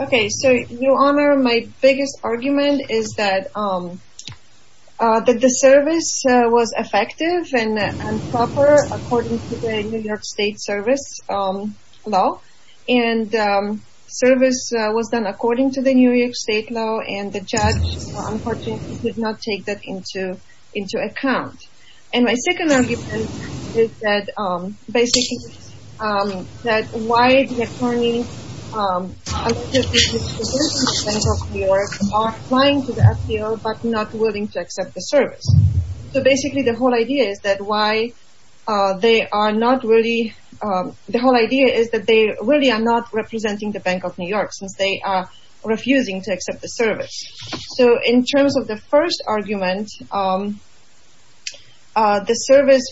Okay, so, Your Honor, my biggest argument is that the service was effective and proper according to the New York State Service Law, and service was done according to the New York State Law, and the judge, unfortunately, did not take that into account. And my second argument is that, basically, that why the attorneys are not willing to accept the service. So, basically, the whole idea is that they really are not representing the Bank of New York since they are refusing to accept the service. So, in terms of the first argument, the service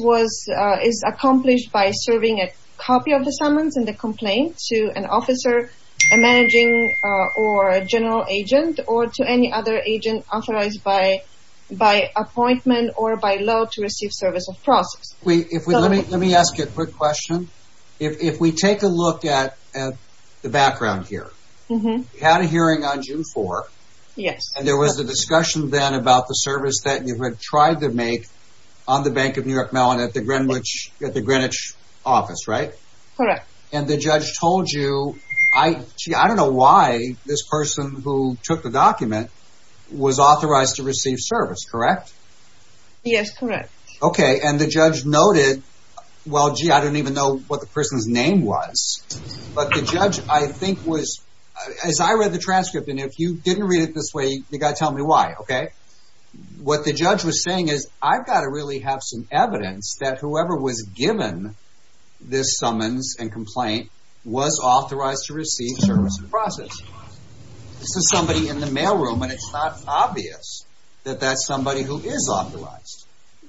is accomplished by serving a copy of the summons and the complaint to an officer, a managing or general agent, or to any other agent authorized by appointment or by law to receive service of process. Let me ask you a quick question. If we take a look at the background here, you had a hearing on June 4th. Yes. And there was a discussion then about the service that you had tried to make on the Bank of New York Mellon at the Greenwich office, right? Correct. And the judge told you, I don't know why this person who took the document was authorized to receive service, correct? Yes, correct. Okay, and the judge noted, well, gee, I don't even know what the person's name was. But the judge, I think, was, as I read the transcript, and if you didn't read it this way, you've got to tell me why, okay? What the judge was saying is, I've got to really have some evidence that whoever was given this summons and complaint was authorized to receive service of process. This is somebody in the mail room, and it's not obvious that that's somebody who is authorized.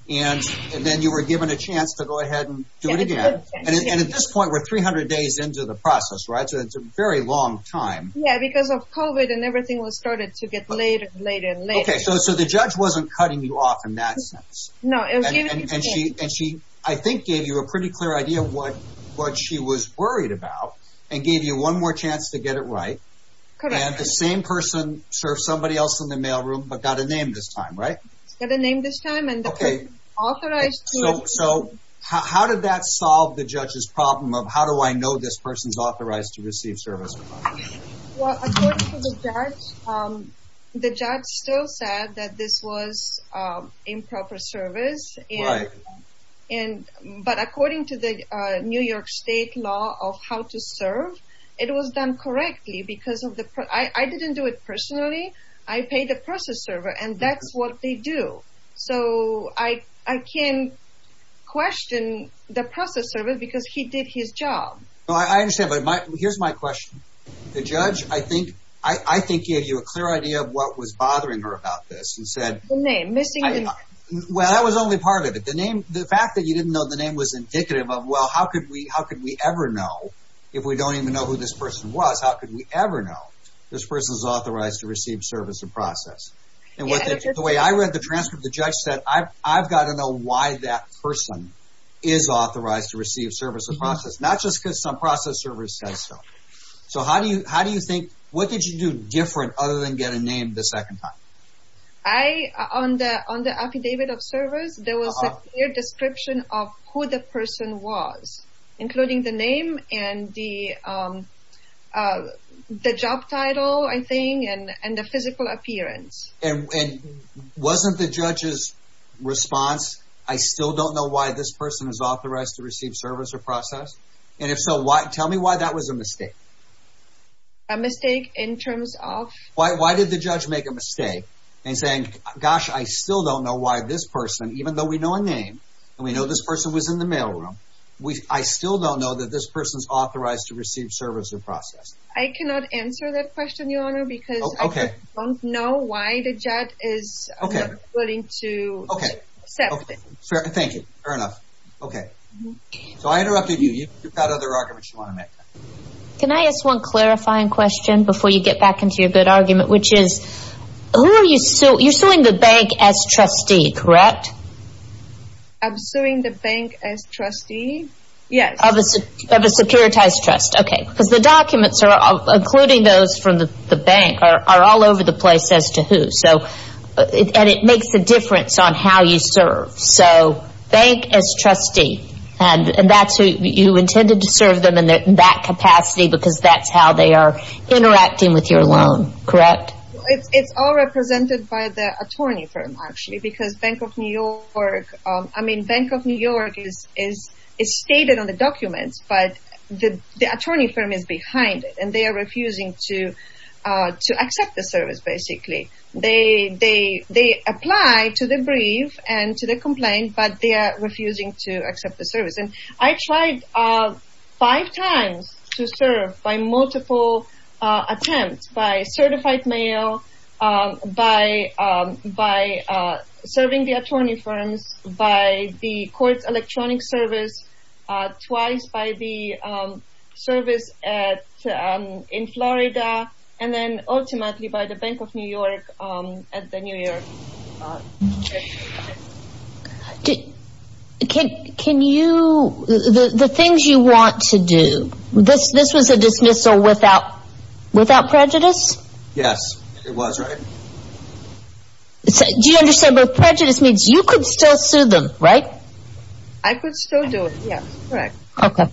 And then you were given a chance to go ahead and do it again. And at this point, we're 300 days into the process, right? So it's a very long time. Yeah, because of COVID and everything was started to get later and later and later. Okay, so the judge wasn't cutting you off in that sense. No. And she, I think, gave you a pretty clear idea of what she was worried about and gave you one more chance to get it right. Correct. And the same person served somebody else in the mail room, but got a name this time, right? Got a name this time. Okay. So how did that solve the judge's problem of how do I know this person's authorized to receive service? Well, according to the judge, the judge still said that this was improper service. Right. But according to the New York State law of how to serve, it was done correctly because of the, I didn't do it personally. I paid the process server, and that's what they do. So I can't question the process server because he did his job. I understand, but here's my question. The judge, I think, gave you a clear idea of what was bothering her about this and said— The name, missing the name. Well, that was only part of it. The fact that you didn't know the name was indicative of, well, how could we ever know if we don't even know who this person was? How could we ever know? This person's authorized to receive service and process. And the way I read the transcript, the judge said, I've got to know why that person is authorized to receive service and process. Not just because some process server says so. So how do you think, what did you do different other than get a name the second time? On the affidavit of service, there was a clear description of who the person was, including the name and the job title, I think, and the physical appearance. And wasn't the judge's response, I still don't know why this person is authorized to receive service or process? And if so, tell me why that was a mistake. A mistake in terms of? Why did the judge make a mistake in saying, gosh, I still don't know why this person, even though we know a name, and we know this person was in the mail room, I still don't know that this person's authorized to receive service or process? I cannot answer that question, Your Honor, because I don't know why the judge is willing to accept it. Okay. Thank you. Fair enough. Okay. So I interrupted you. You've got other arguments you want to make. Can I ask one clarifying question before you get back into your good argument? Which is, you're suing the bank as trustee, correct? I'm suing the bank as trustee, yes. Of a securitized trust, okay. Because the documents, including those from the bank, are all over the place as to who. And it makes a difference on how you serve. So bank as trustee, and that's who you intended to serve them in that capacity because that's how they are interacting with your loan, correct? It's all represented by the attorney firm, actually, because Bank of New York, I mean, Bank of New York is stated on the documents, but the attorney firm is behind it, and they are refusing to accept the service, basically. They apply to the brief and to the complaint, but they are refusing to accept the service. And I tried five times to serve by multiple attempts, by certified mail, by serving the attorney firms, by the court's electronic service, twice by the service in Florida, and then ultimately by the Bank of New York at the New York. Can you, the things you want to do, this was a dismissal without prejudice? Yes, it was, right? Do you understand what prejudice means? You could still sue them, right? I could still do it, yes, correct. Okay.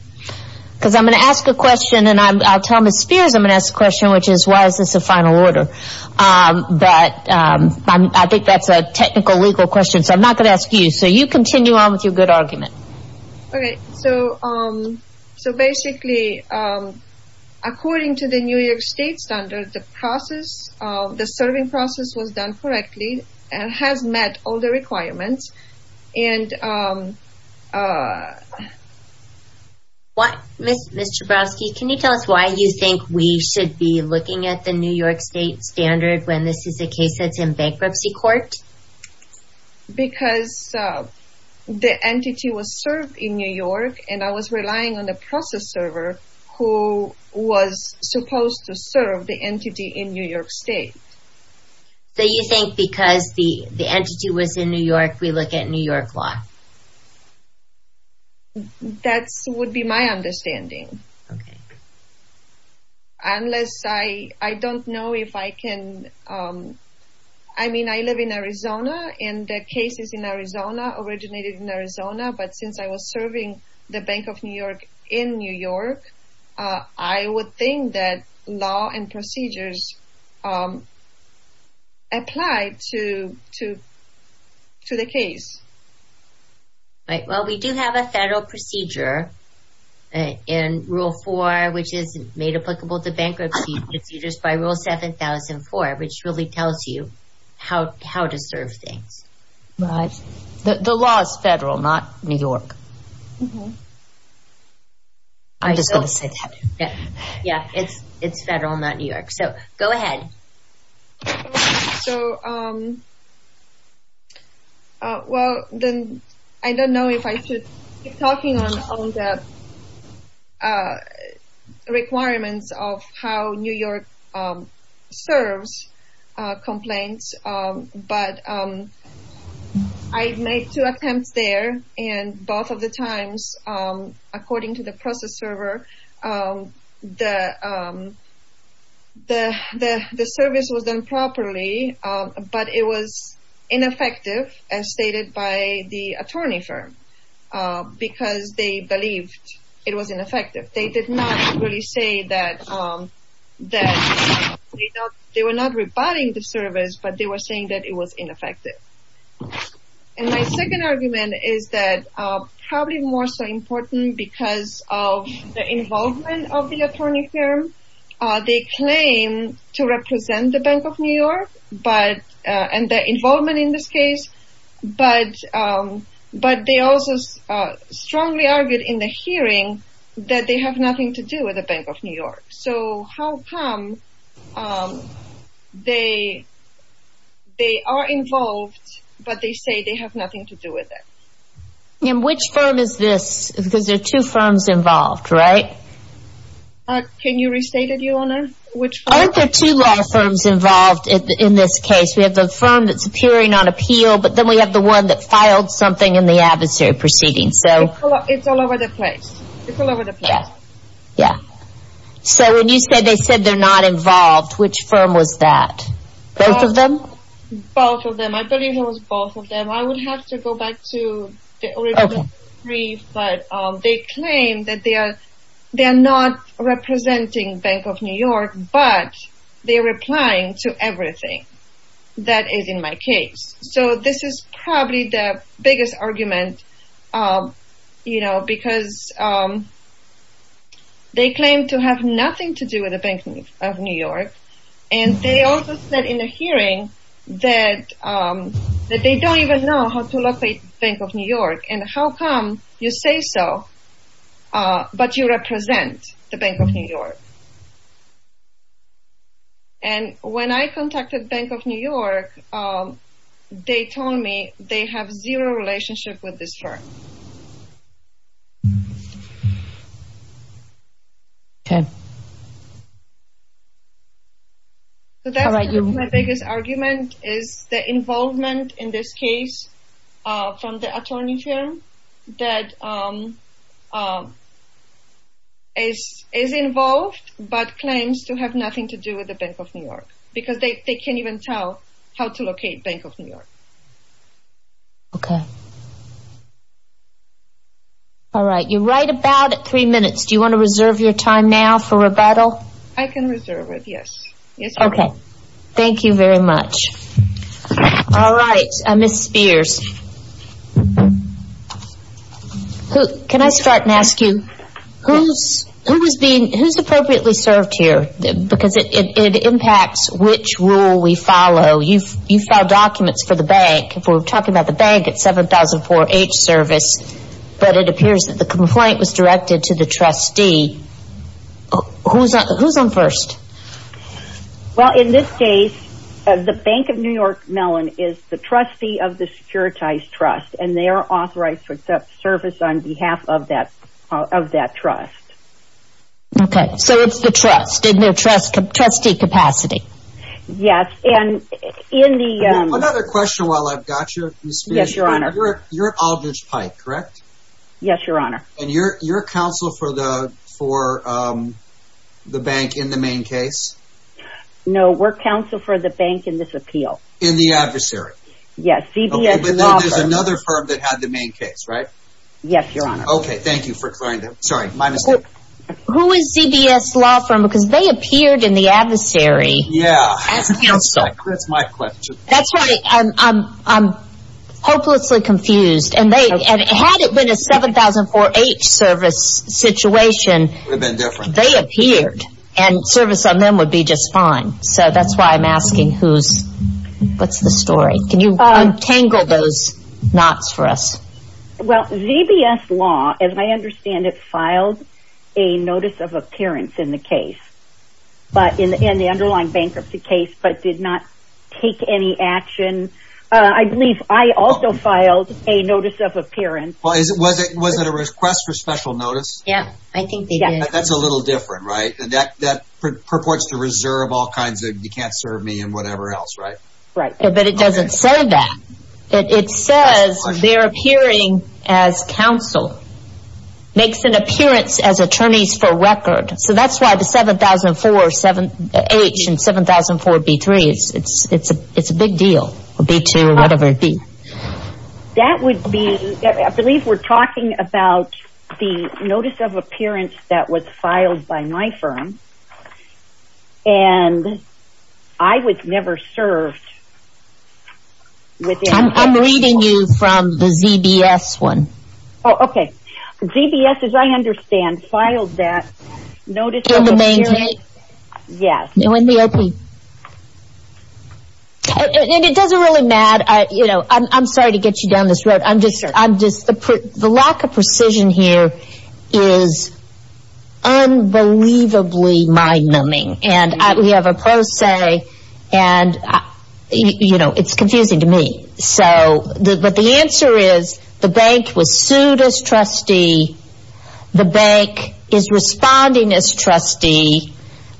Because I'm going to ask a question, and I'll tell Ms. Spears I'm going to ask a question, which is why is this a final order? But I think that's a technical, legal question, so I'm not going to ask you. So you continue on with your good argument. Okay. So basically, according to the New York State standard, the process, the serving process was done correctly and has met all the requirements. Ms. Chabrowski, can you tell us why you think we should be looking at the New York State standard when this is a case that's in bankruptcy court? Because the entity was served in New York, and I was relying on the process server who was supposed to serve the entity in New York State. So you think because the entity was in New York, we look at New York law? That would be my understanding. Okay. Unless I don't know if I can, I mean, I live in Arizona, and the case is in Arizona, originated in Arizona, but since I was serving the Bank of New York in New York, I would think that law and procedures apply to the case. Right. Well, we do have a federal procedure in Rule 4, which is made applicable to bankruptcy procedures by Rule 7004, which really tells you how to serve things. Right. The law is federal, not New York. I'm just going to say that. Yeah, it's federal, not New York. So go ahead. So, well, then I don't know if I should keep talking on the requirements of how New York serves complaints, but I made two attempts there, and both of the times, according to the process server, the service was done properly, but it was ineffective, as stated by the attorney firm, because they believed it was ineffective. They did not really say that they were not rebutting the service, but they were saying that it was ineffective. And my second argument is that probably more so important because of the involvement of the attorney firm, they claim to represent the Bank of New York and their involvement in this case, but they also strongly argued in the hearing that they have nothing to do with the Bank of New York. So how come they are involved, but they say they have nothing to do with it? And which firm is this? Because there are two firms involved, right? Can you restate it, Your Honor? Aren't there two law firms involved in this case? We have the firm that's appearing on appeal, but then we have the one that filed something in the adversary proceeding. It's all over the place. It's all over the place. Yeah. So when you said they said they're not involved, which firm was that? Both of them? Both of them. I believe it was both of them. I would have to go back to the original brief, but they claim that they are not representing Bank of New York, but they are replying to everything that is in my case. So this is probably the biggest argument, you know, because they claim to have nothing to do with the Bank of New York, and they also said in the hearing that they don't even know how to locate Bank of New York, and how come you say so, but you represent the Bank of New York? And when I contacted Bank of New York, they told me they have zero relationship with this firm. Okay. So that's my biggest argument, is the involvement in this case from the attorney firm that is involved, but claims to have nothing to do with the Bank of New York, because they can't even tell how to locate Bank of New York. Okay. All right. You're right about at three minutes. Do you want to reserve your time now for rebuttal? I can reserve it, yes. Okay. Thank you very much. All right. Ms. Spears, can I start and ask you, who has appropriately served here? Because it impacts which rule we follow. You filed documents for the bank. We're talking about the bank at 7004H service, but it appears that the complaint was directed to the trustee. Who's on first? Well, in this case, the Bank of New York, Mellon, is the trustee of the securitized trust, and they are authorized for service on behalf of that trust. Okay. So it's the trust in their trustee capacity. Yes. Another question while I've got you, Ms. Spears. Yes, Your Honor. You're Aldridge Pike, correct? Yes, Your Honor. And you're counsel for the bank in the main case? No, we're counsel for the bank in this appeal. In the adversary? Yes, CBS Law Firm. But there's another firm that had the main case, right? Yes, Your Honor. Okay. Thank you for clarifying that. Sorry, my mistake. Who is CBS Law Firm? Because they appeared in the adversary. Yes. As counsel. That's my question. That's right. I'm hopelessly confused. Had it been a 7004H service situation, they appeared, and service on them would be just fine. So that's why I'm asking what's the story. Can you untangle those knots for us? Well, CBS Law, as I understand it, filed a notice of appearance in the case, in the underlying bankruptcy case, but did not take any action. I believe I also filed a notice of appearance. Was it a request for special notice? Yes, I think they did. That's a little different, right? That purports to reserve all kinds of you can't serve me and whatever else, right? Right. But it doesn't say that. It says they're appearing as counsel. Makes an appearance as attorneys for record. So that's why the 7004H and 7004B3, it's a big deal. B2 or whatever it be. That would be, I believe we're talking about the notice of appearance that was filed by my firm, and I was never served. I'm reading you from the ZBS one. Oh, okay. ZBS, as I understand, filed that notice of appearance. In the main state? Yes. And it doesn't really matter. I'm sorry to get you down this road. The lack of precision here is unbelievably mind-numbing. And we have a pro se, and, you know, it's confusing to me. But the answer is the bank was sued as trustee. The bank is responding as trustee.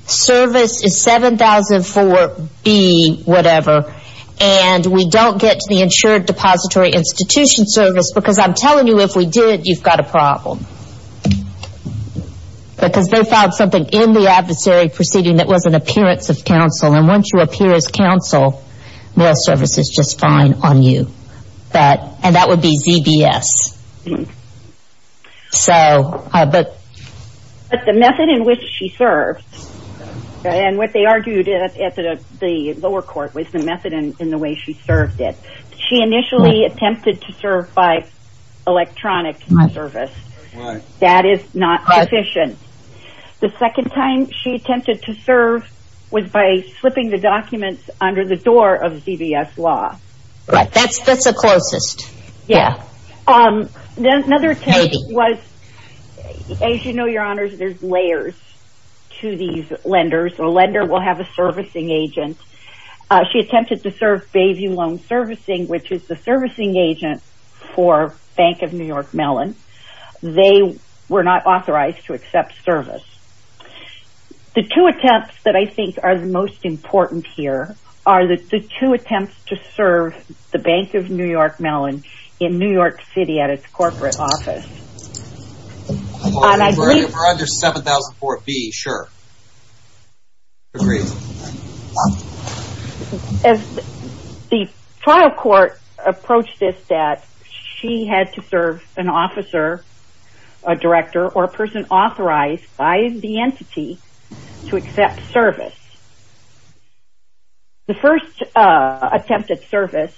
Service is 7004B whatever. And we don't get to the insured depository institution service because I'm telling you if we did, you've got a problem. Because they filed something in the adversary proceeding that was an appearance of counsel. And once you appear as counsel, mail service is just fine on you. And that would be ZBS. But the method in which she served, and what they argued at the lower court was the method in the way she served it. She initially attempted to serve by electronic mail service. That is not sufficient. The second time she attempted to serve was by slipping the documents under the door of ZBS law. Right. That's the closest. Yeah. Another attempt was, as you know, your honors, there's layers to these lenders. A lender will have a servicing agent. She attempted to serve Bayview Loan Servicing, which is the servicing agent for Bank of New York Mellon. They were not authorized to accept service. The two attempts that I think are the most important here are the two attempts to serve the Bank of New York Mellon in New York City at its corporate office. We're under 7004B, sure. Agreed. As the trial court approached this, that she had to serve an officer, a director, or a person authorized by the entity to accept service. The first attempt at service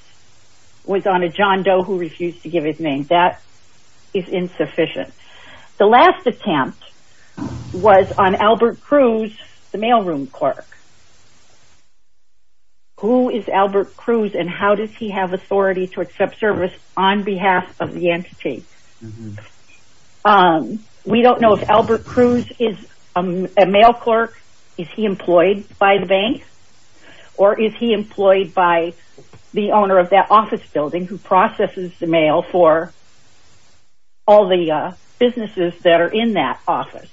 was on a John Doe who refused to give his name. That is insufficient. The last attempt was on Albert Cruz, the mailroom clerk. Who is Albert Cruz and how does he have authority to accept service on behalf of the entity? We don't know if Albert Cruz is a mail clerk. Is he employed by the bank? Or is he employed by the owner of that office building who processes the mail for all the businesses that are in that office?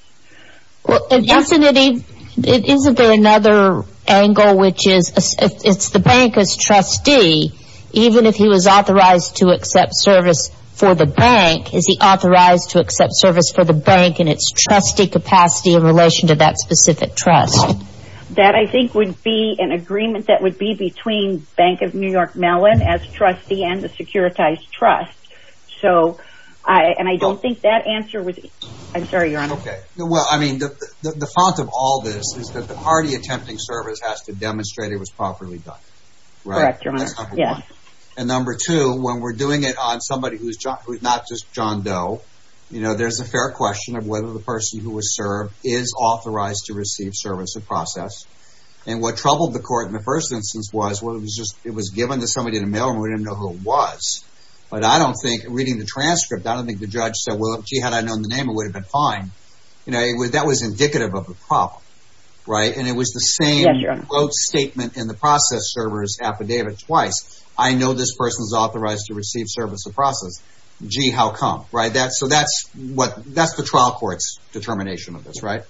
Isn't there another angle which is if the bank is trustee, even if he was authorized to accept service for the bank, is he authorized to accept service for the bank in its trustee capacity in relation to that specific trust? That I think would be an agreement that would be between Bank of New York Mellon as trustee and the Securitized Trust. And I don't think that answer would... I'm sorry, Your Honor. Well, I mean, the font of all this is that the party attempting service has to demonstrate it was properly done. Correct, Your Honor. And number two, when we're doing it on somebody who's not just John Doe, there's a fair question of whether the person who was served is authorized to receive service or process. And what troubled the court in the first instance was it was given to somebody in a mailroom and we didn't know who it was. But I don't think, reading the transcript, I don't think the judge said, well, gee, had I known the name, it would have been fine. You know, that was indicative of a problem, right? And it was the same quote statement in the process server's affidavit twice. I know this person is authorized to receive service or process. Gee, how come, right? So that's the trial court's determination of this, right?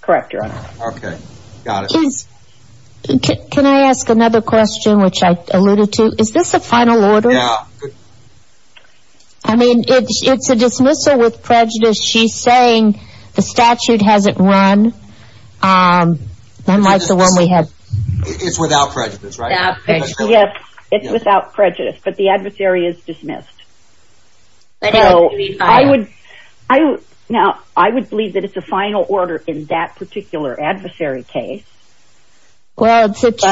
Correct, Your Honor. Okay, got it. Can I ask another question, which I alluded to? Is this a final order? Yeah. I mean, it's a dismissal with prejudice. She's saying the statute hasn't run, unlike the one we had. It's without prejudice, right? Yes, it's without prejudice, but the adversary is dismissed. So I would believe that it's a final order in that particular adversary case. Well, isn't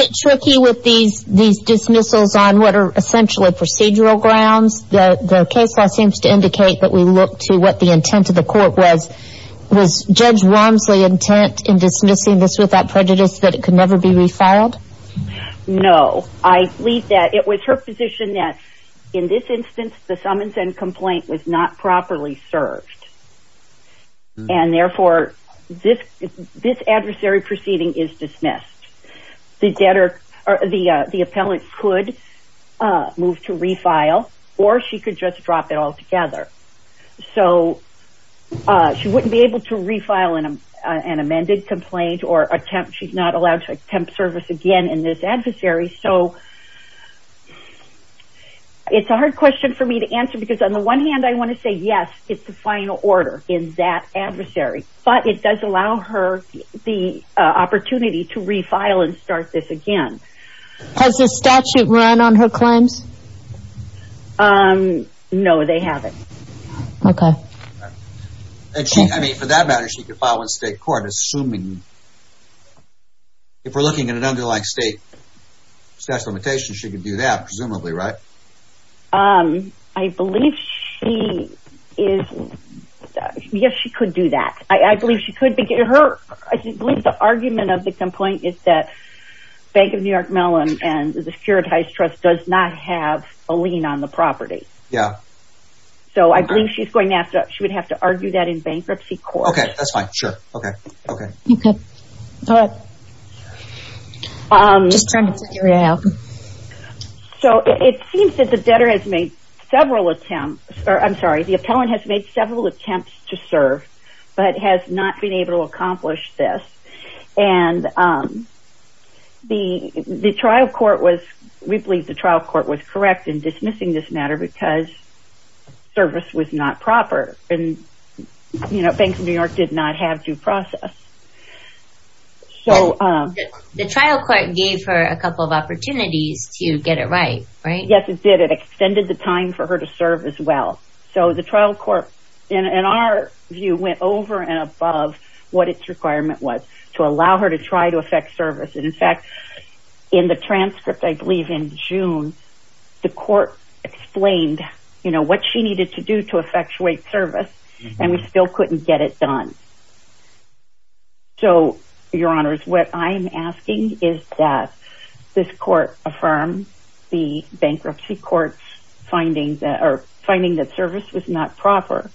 it tricky with these dismissals on what are essentially procedural grounds? The case law seems to indicate that we look to what the intent of the court was. Was Judge Romsley intent in dismissing this without prejudice that it could never be refiled? No. I believe that it was her position that, in this instance, the summons and complaint was not properly served. And, therefore, this adversary proceeding is dismissed. The appellant could move to refile, or she could just drop it altogether. So she wouldn't be able to refile an amended complaint or attempt. She's not allowed to attempt service again in this adversary. So it's a hard question for me to answer because, on the one hand, I want to say, yes, it's the final order in that adversary. But it does allow her the opportunity to refile and start this again. Has the statute run on her claims? Okay. I mean, for that matter, she could file in state court, assuming... If we're looking at an underlying state statute of limitations, she could do that, presumably, right? I believe she is... Yes, she could do that. I believe she could... I believe the argument of the complaint is that Bank of New York Mellon and the Securitized Trust does not have a lien on the property. Yeah. So I believe she's going to have to argue that in bankruptcy court. Okay, that's fine. Sure. Okay. Okay. Okay. All right. Just trying to figure it out. So it seems that the debtor has made several attempts... I'm sorry. The appellant has made several attempts to serve, but has not been able to accomplish this. And the trial court was... We believe the trial court was correct in dismissing this matter because service was not proper. And, you know, Bank of New York did not have due process. So... The trial court gave her a couple of opportunities to get it right, right? Yes, it did. It extended the time for her to serve as well. So the trial court, in our view, went over and above what its requirement was to allow her to try to affect service. In fact, in the transcript, I believe in June, the court explained, you know, what she needed to do to effectuate service. And we still couldn't get it done. So, Your Honors, what I'm asking is that this court affirm the bankruptcy court's finding that service was not proper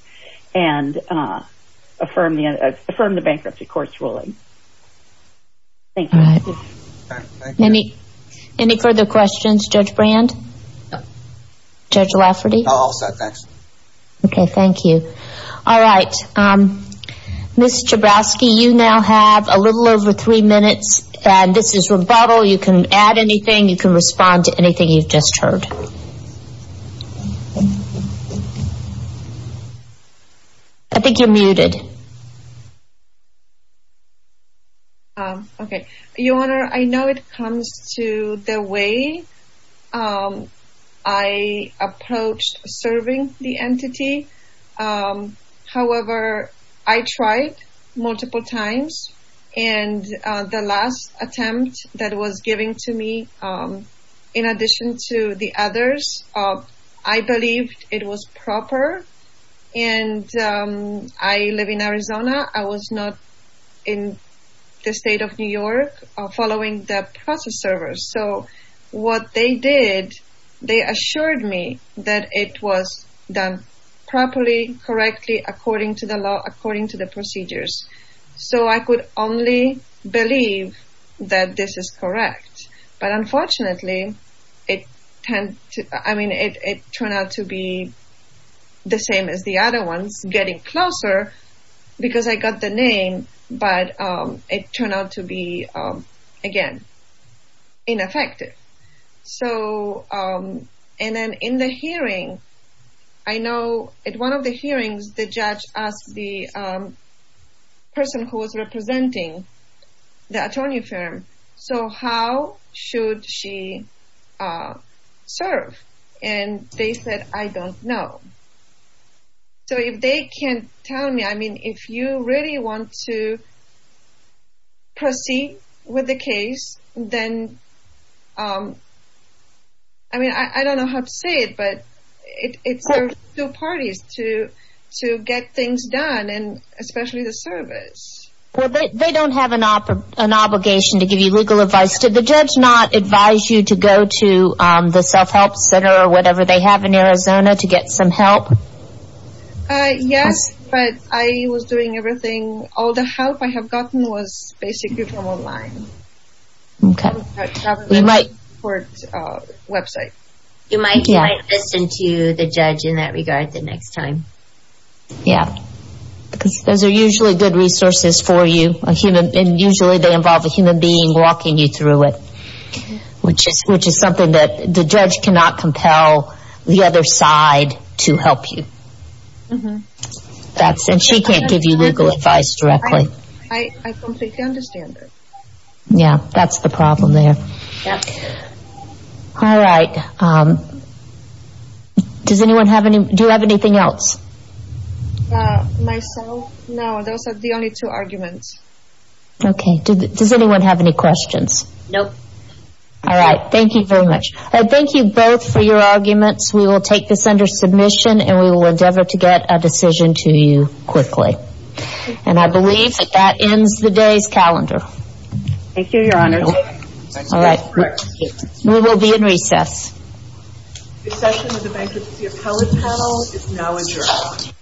and affirm the bankruptcy court's ruling. Thank you. All right. Any further questions, Judge Brand? Judge Lafferty? All set, thanks. Okay, thank you. All right. Ms. Jabrowski, you now have a little over three minutes. And this is rebuttal. You can add anything. You can respond to anything you've just heard. I think you're muted. Okay. Your Honor, I know it comes to the way I approached serving the entity. However, I tried multiple times. And the last attempt that was given to me, in addition to the others, I believed it was proper. And I live in Arizona. I was not in the state of New York following the process servers. So, what they did, they assured me that it was done properly, correctly, according to the law, according to the procedures. So, I could only believe that this is correct. But unfortunately, it turned out to be the same as the other ones, getting closer, because I got the name, but it turned out to be, again, ineffective. So, and then in the hearing, I know at one of the hearings, the judge asked the person who was representing the attorney firm, so how should she serve? And they said, I don't know. So, if they can tell me, I mean, if you really want to proceed with the case, then, I mean, I don't know how to say it, but it serves two parties to get things done, and especially the service. Well, they don't have an obligation to give you legal advice. Did the judge not advise you to go to the self-help center or whatever they have in Arizona to get some help? Yes, but I was doing everything. All the help I have gotten was basically from online. Okay. We might. Website. You might listen to the judge in that regard the next time. Yeah, because those are usually good resources for you, and usually they involve a human being walking you through it, which is something that the judge cannot compel the other side to help you. And she can't give you legal advice directly. I completely understand that. Yeah, that's the problem there. Yep. All right. Does anyone have any, do you have anything else? Myself, no. Those are the only two arguments. Okay. Does anyone have any questions? Nope. All right. Thank you very much. Thank you both for your arguments. We will take this under submission, and we will endeavor to get a decision to you quickly. And I believe that that ends the day's calendar. Thank you, Your Honor. Thank you. All right. We will be in recess. The session of the Bankruptcy Appellate Panel is now adjourned.